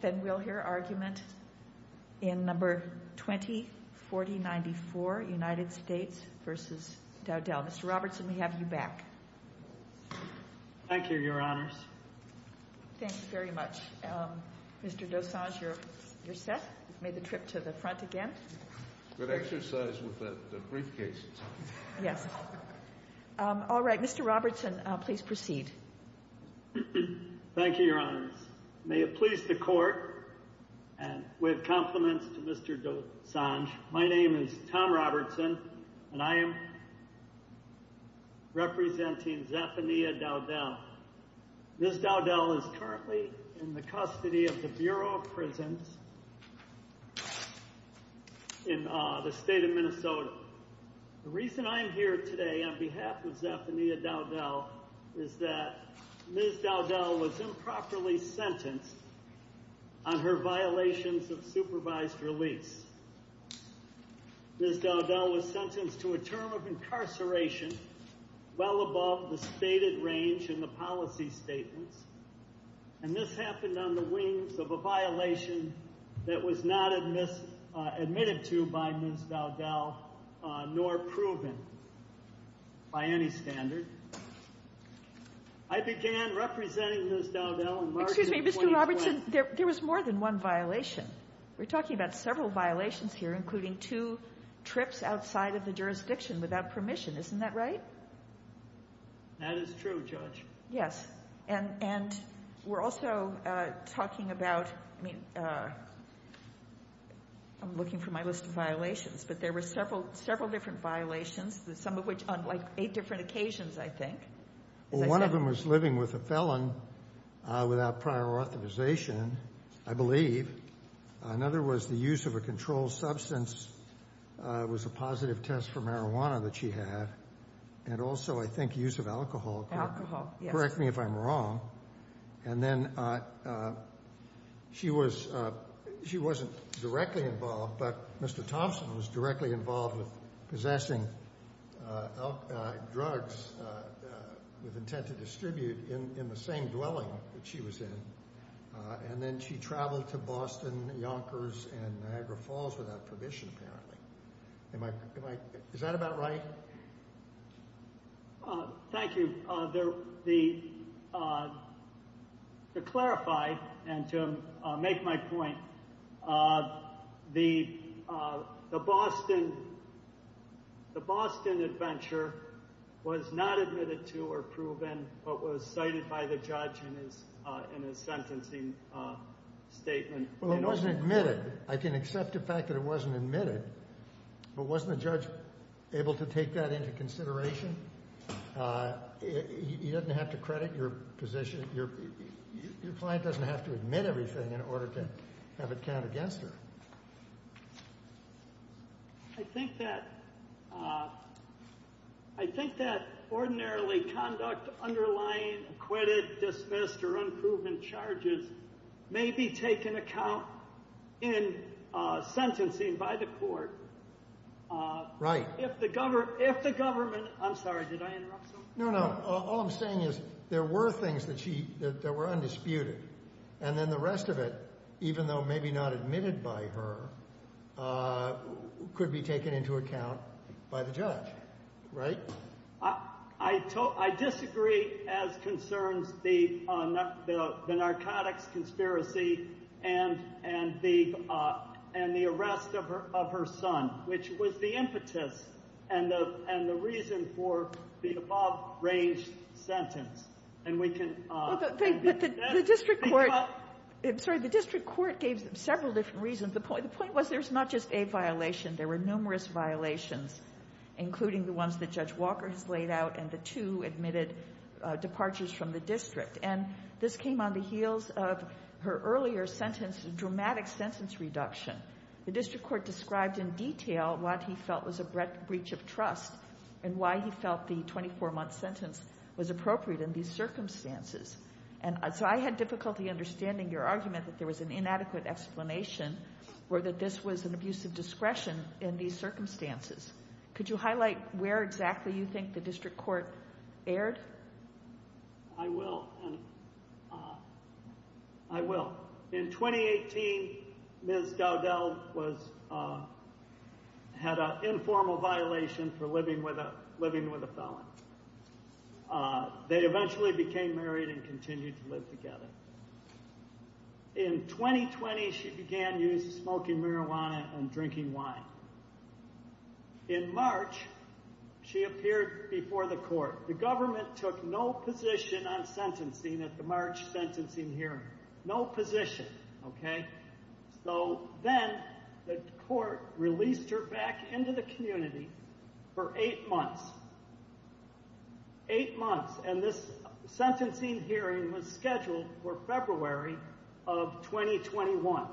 Then we'll hear argument in No. 204094, United States v. Dowdell. Mr. Robertson, we have you back. Thank you, Your Honors. Thank you very much. Mr. Dossage, you're set. You've made the trip to the front again. Good exercise with that briefcase. Yes. All right, Mr. Robertson, please proceed. Thank you, Your Honors. May it please the Court, and we have compliments to Mr. Dossage. My name is Tom Robertson, and I am representing Zephaniah Dowdell. Ms. Dowdell is currently in the custody of the Bureau of Prisons in the state of Minnesota. The reason I am here today on behalf of Zephaniah Dowdell is that Ms. Dowdell was improperly sentenced on her violations of supervised release. Ms. Dowdell was sentenced to a term of incarceration well above the stated range in the policy statements, and this happened on the wings of a violation that was not admitted to by Ms. Dowdell nor proven by any standard. I began representing Ms. Dowdell in March of 2012. Excuse me, Mr. Robertson, there was more than one violation. We're talking about several violations here, including two trips outside of the jurisdiction without permission. That is true, Judge. Yes, and we're also talking about, I mean, I'm looking for my list of violations, but there were several different violations, some of which on like eight different occasions, I think. Well, one of them was living with a felon without prior authorization, I believe. Another was the use of a controlled substance. It was a positive test for marijuana that she had, and also I think use of alcohol. Alcohol, yes. Correct me if I'm wrong. And then she was, she wasn't directly involved, but Mr. Thompson was directly involved with possessing drugs with intent to distribute in the same dwelling that she was in, and then she traveled to Boston, Yonkers, and Niagara Falls without permission, apparently. Am I, is that about right? Thank you. To clarify and to make my point, the Boston adventure was not admitted to or proven, but was cited by the judge in his sentencing statement. Well, it wasn't admitted. I can accept the fact that it wasn't admitted, but wasn't the judge able to take that into consideration? He doesn't have to credit your position. Your client doesn't have to admit everything in order to have it count against her. I think that, I think that ordinarily conduct underlying acquitted, dismissed, or unproven charges may be taken account in sentencing by the court. Right. If the government, I'm sorry, did I interrupt something? No, no. All I'm saying is there were things that she, that were undisputed, and then the rest of it, even though maybe not admitted by her, could be taken into account by the judge. Right? I disagree as concerns the narcotics conspiracy and the arrest of her son, which was the impetus and the reason for the above-ranged sentence. And we can end it there. The district court, I'm sorry, the district court gave several different reasons. The point was there's not just a violation. There were numerous violations, including the ones that Judge Walker has laid out, and the two admitted departures from the district. And this came on the heels of her earlier sentence, the dramatic sentence reduction. The district court described in detail what he felt was a breach of trust and why he felt the 24-month sentence was appropriate in these circumstances. And so I had difficulty understanding your argument that there was an inadequate explanation or that this was an abuse of discretion in these circumstances. Could you highlight where exactly you think the district court erred? I will. I will. In 2018, Ms. Dowdell had an informal violation for living with a felon. They eventually became married and continued to live together. In 2020, she began use of smoking marijuana and drinking wine. In March, she appeared before the court. The government took no position on sentencing at the March sentencing hearing, no position, okay? So then the court released her back into the community for eight months, eight months. And this sentencing hearing was scheduled for February of 2021.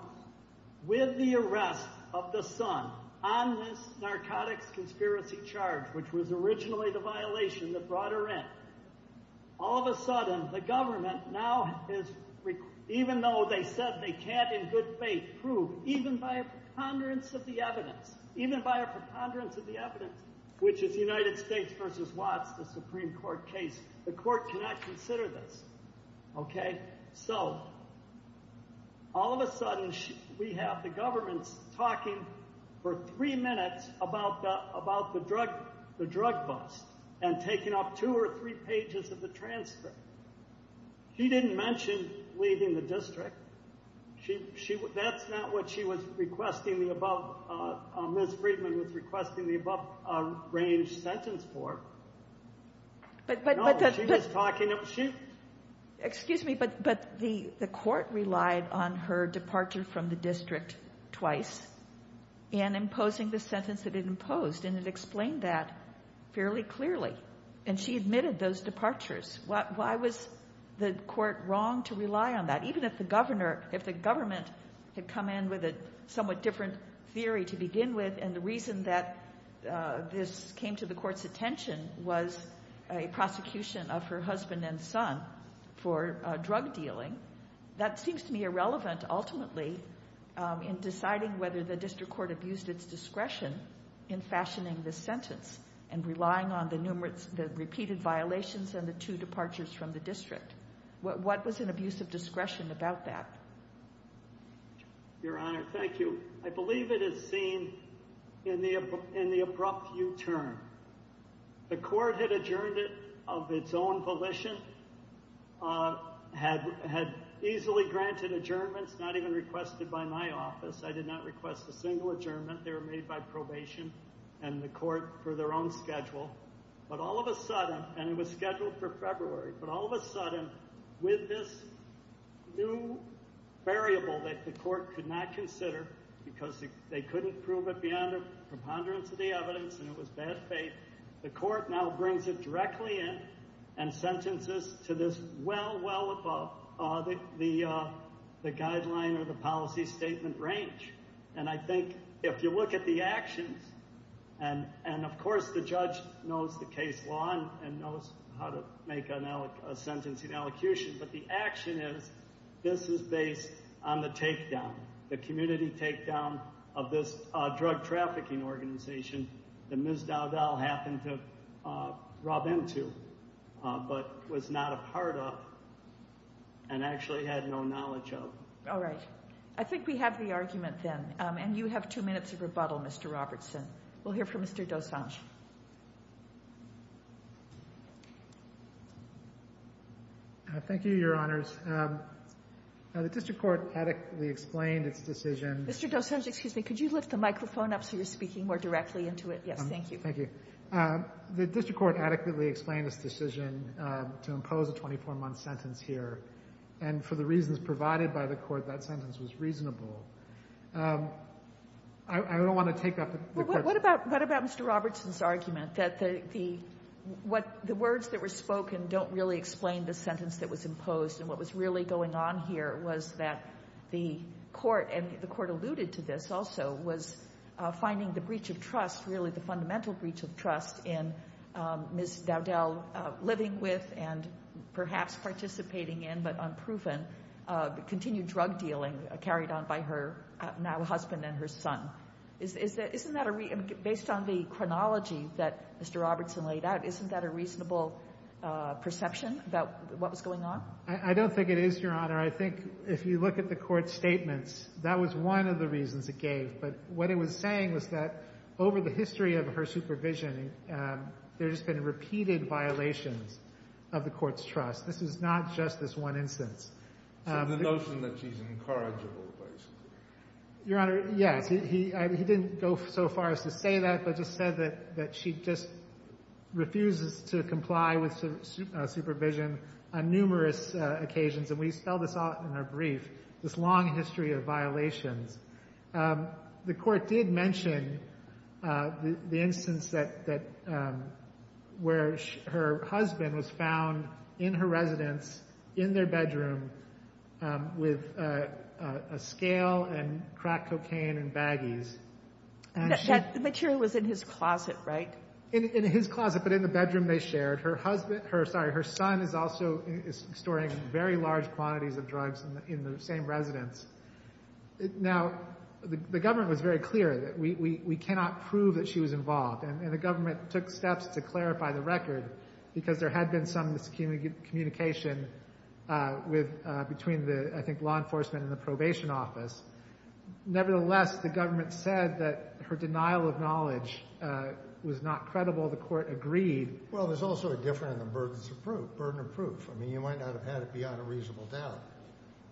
With the arrest of the son on this narcotics conspiracy charge, which was originally the violation that brought her in, all of a sudden the government now is, even though they said they can't in good faith prove, even by a preponderance of the evidence, even by a preponderance of the evidence, which is the United States v. Watts, the Supreme Court case, the court cannot consider this, okay? So all of a sudden we have the government talking for three minutes about the drug bust and taking up two or three pages of the transcript. She didn't mention leaving the district. That's not what she was requesting the above. Ms. Friedman was requesting the above-range sentence for. No, she was talking about she... Excuse me, but the court relied on her departure from the district twice in imposing the sentence that it imposed, and it explained that fairly clearly. And she admitted those departures. Why was the court wrong to rely on that? Even if the government had come in with a somewhat different theory to begin with, and the reason that this came to the court's attention was a prosecution of her husband and son for drug dealing, that seems to me irrelevant, ultimately, in deciding whether the district court abused its discretion in fashioning this sentence and relying on the repeated violations and the two departures from the district. What was an abuse of discretion about that? Your Honor, thank you. I believe it is seen in the abrupt U-turn. The court had adjourned it of its own volition, had easily granted adjournments not even requested by my office. I did not request a single adjournment. They were made by probation and the court for their own schedule. But all of a sudden, and it was scheduled for February, but all of a sudden, with this new variable that the court could not consider because they couldn't prove it beyond a preponderance of the evidence and it was bad faith, the court now brings it directly in and sentences to this well, well above the guideline or the policy statement range. And I think if you look at the actions, and of course the judge knows the case law and knows how to make a sentencing allocution, but the action is this is based on the takedown, the community takedown of this drug trafficking organization that Ms. Dowdell happened to rub into but was not a part of and actually had no knowledge of. All right. I think we have the argument then. And you have two minutes of rebuttal, Mr. Robertson. We'll hear from Mr. Dosange. Thank you, Your Honors. The district court adequately explained its decision. Mr. Dosange, excuse me, could you lift the microphone up so you're speaking more directly into it? Yes, thank you. Thank you. The district court adequately explained its decision to impose a 24-month sentence here. And for the reasons provided by the court, that sentence was reasonable. I don't want to take that. What about Mr. Robertson's argument that the words that were spoken don't really explain the sentence that was imposed and what was really going on here was that the court, and the court alluded to this also, was finding the breach of trust, really the fundamental breach of trust, in Ms. Dowdell living with and perhaps participating in, but unproven, continued drug dealing carried on by her now husband and her son. Based on the chronology that Mr. Robertson laid out, isn't that a reasonable perception about what was going on? I don't think it is, Your Honor. I think if you look at the court's statements, that was one of the reasons it gave. But what it was saying was that over the history of her supervision, there's been repeated violations of the court's trust. This is not just this one instance. So the notion that she's incorrigible, basically. Your Honor, yes. He didn't go so far as to say that, but just said that she just refuses to comply with supervision on numerous occasions. And we spell this out in our brief, this long history of violations. The court did mention the instance where her husband was found in her residence, in their bedroom, with a scale and cracked cocaine and baggies. The material was in his closet, right? In his closet, but in the bedroom they shared. Her son is also storing very large quantities of drugs in the same residence. Now, the government was very clear that we cannot prove that she was involved, and the government took steps to clarify the record because there had been some miscommunication between the, I think, law enforcement and the probation office. Nevertheless, the government said that her denial of knowledge was not credible. The court agreed. Well, there's also a difference in the burden of proof. I mean, you might not have had it beyond a reasonable doubt,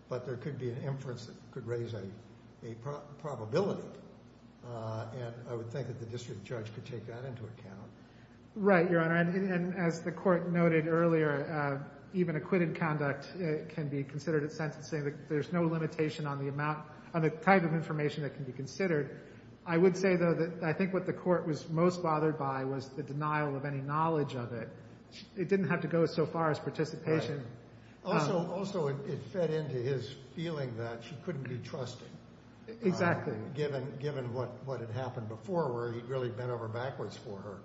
but there could be an inference that could raise a probability, and I would think that the district judge could take that into account. Right, Your Honor, and as the court noted earlier, even acquitted conduct can be considered at sentencing. There's no limitation on the type of information that can be considered. I would say, though, that I think what the court was most bothered by was the denial of any knowledge of it. It didn't have to go so far as participation. Right. Also, it fed into his feeling that she couldn't be trusted. Exactly. Given what had happened before where he'd really bent over backwards for her.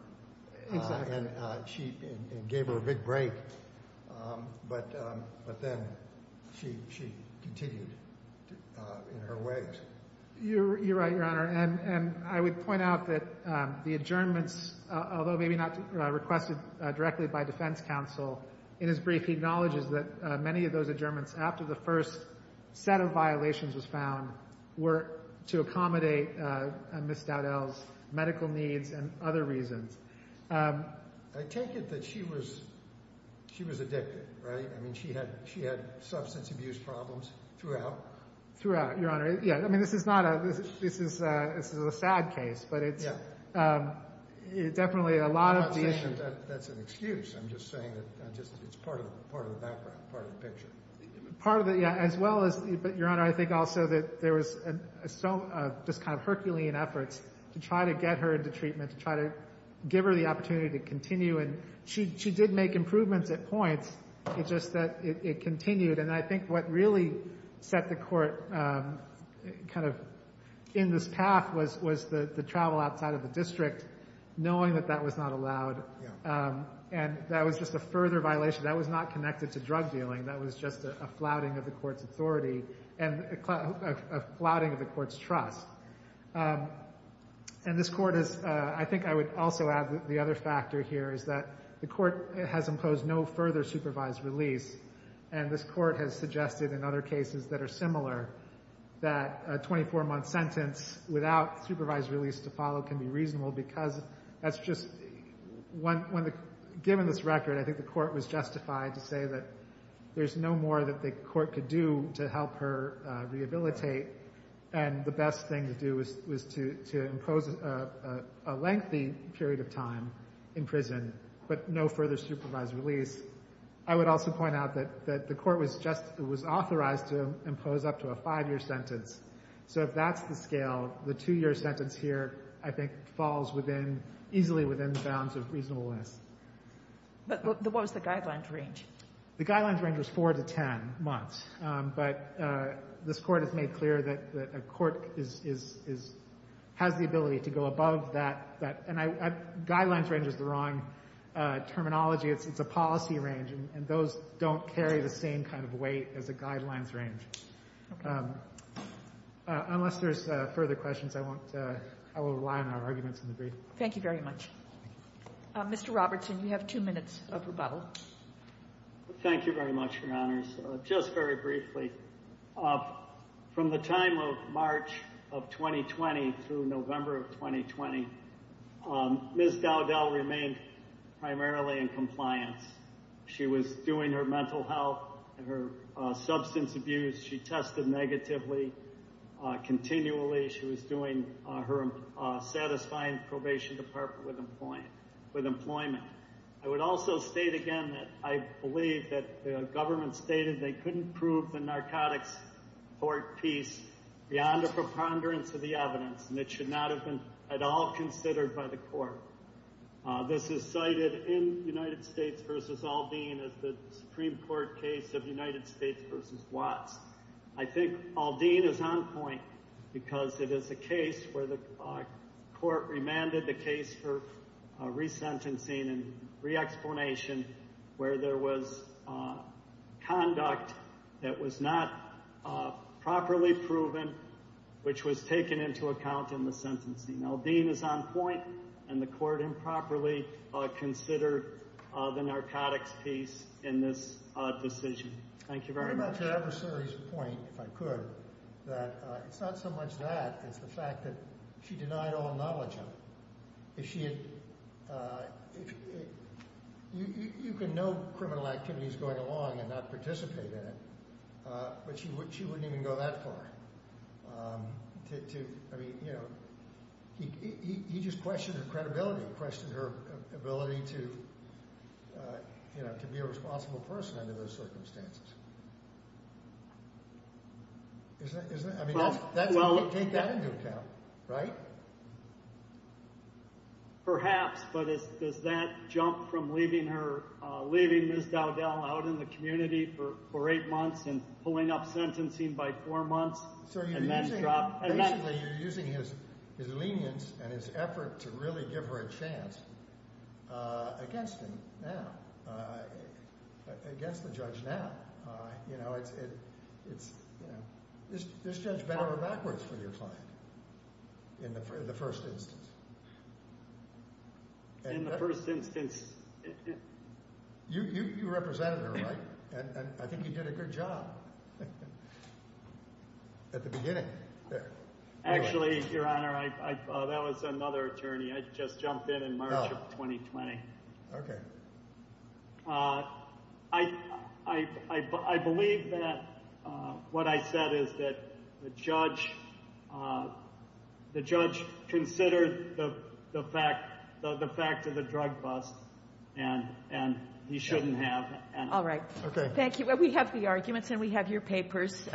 Exactly. And gave her a big break, but then she continued in her ways. You're right, Your Honor, and I would point out that the adjournments, although maybe not requested directly by defense counsel, in his brief he acknowledges that many of those adjournments after the first set of violations was found to accommodate Ms. Dowdell's medical needs and other reasons. I take it that she was addicted, right? I mean, she had substance abuse problems throughout. Throughout, Your Honor. Yeah, I mean, this is a sad case, but it's definitely a lot of the issue. I'm not saying that's an excuse. I'm just saying that it's part of the background, part of the picture. As well as, Your Honor, I think also that there was just kind of Herculean efforts to try to get her into treatment, to try to give her the opportunity to continue, and she did make improvements at points. It's just that it continued. And I think what really set the court kind of in this path was the travel outside of the district, knowing that that was not allowed. And that was just a further violation. That was not connected to drug dealing. That was just a flouting of the court's authority and a flouting of the court's trust. And this court is, I think I would also add the other factor here is that the court has imposed no further supervised release, and this court has suggested in other cases that are similar that a 24-month sentence without supervised release to follow can be reasonable because that's just, given this record, I think the court was justified to say that there's no more that the court could do to help her rehabilitate. And the best thing to do was to impose a lengthy period of time in prison but no further supervised release. I would also point out that the court was authorized to impose up to a five-year sentence. So if that's the scale, the two-year sentence here, I think, falls easily within bounds of reasonableness. But what was the guidelines range? The guidelines range was 4 to 10 months. But this court has made clear that a court has the ability to go above that. And guidelines range is the wrong terminology. It's a policy range, and those don't carry the same kind of weight as a guidelines range. Unless there's further questions, I won't rely on our arguments in the brief. Thank you very much. Mr. Robertson, you have two minutes of rebuttal. Thank you very much, Your Honors. Just very briefly, from the time of March of 2020 through November of 2020, Ms. Dowdell remained primarily in compliance. She was doing her mental health and her substance abuse. She tested negatively continually. She was doing her satisfying probation department with employment. I would also state again that I believe that the government stated they couldn't prove the narcotics court piece beyond a preponderance of the evidence, and it should not have been at all considered by the court. This is cited in United States v. Aldean as the Supreme Court case of United States v. Watts. I think Aldean is on point because it is a case where the court remanded the case for resentencing and re-explanation where there was conduct that was not properly proven, which was taken into account in the sentencing. Aldean is on point, and the court improperly considered the narcotics piece in this decision. Thank you very much. What about the adversary's point, if I could, that it's not so much that, it's the fact that she denied all knowledge of it. You can know criminal activities going along and not participate in it, but she wouldn't even go that far. I mean, you know, he just questioned her credibility, questioned her ability to be a responsible person under those circumstances. I mean, take that into account, right? Perhaps, but does that jump from leaving Ms. Dowdell out in the community for eight months and pulling up sentencing by four months and then drop? Basically, you're using his lenience and his effort to really give her a chance against him now, against the judge now. You know, it's, you know, this judge bent over backwards for your client in the first instance. In the first instance. You represented her, right? And I think you did a good job at the beginning. Actually, Your Honor, that was another attorney. I just jumped in in March of 2020. Okay. I believe that what I said is that the judge considered the fact of the drug bust, and he shouldn't have. All right. Thank you. We have the arguments and we have your papers.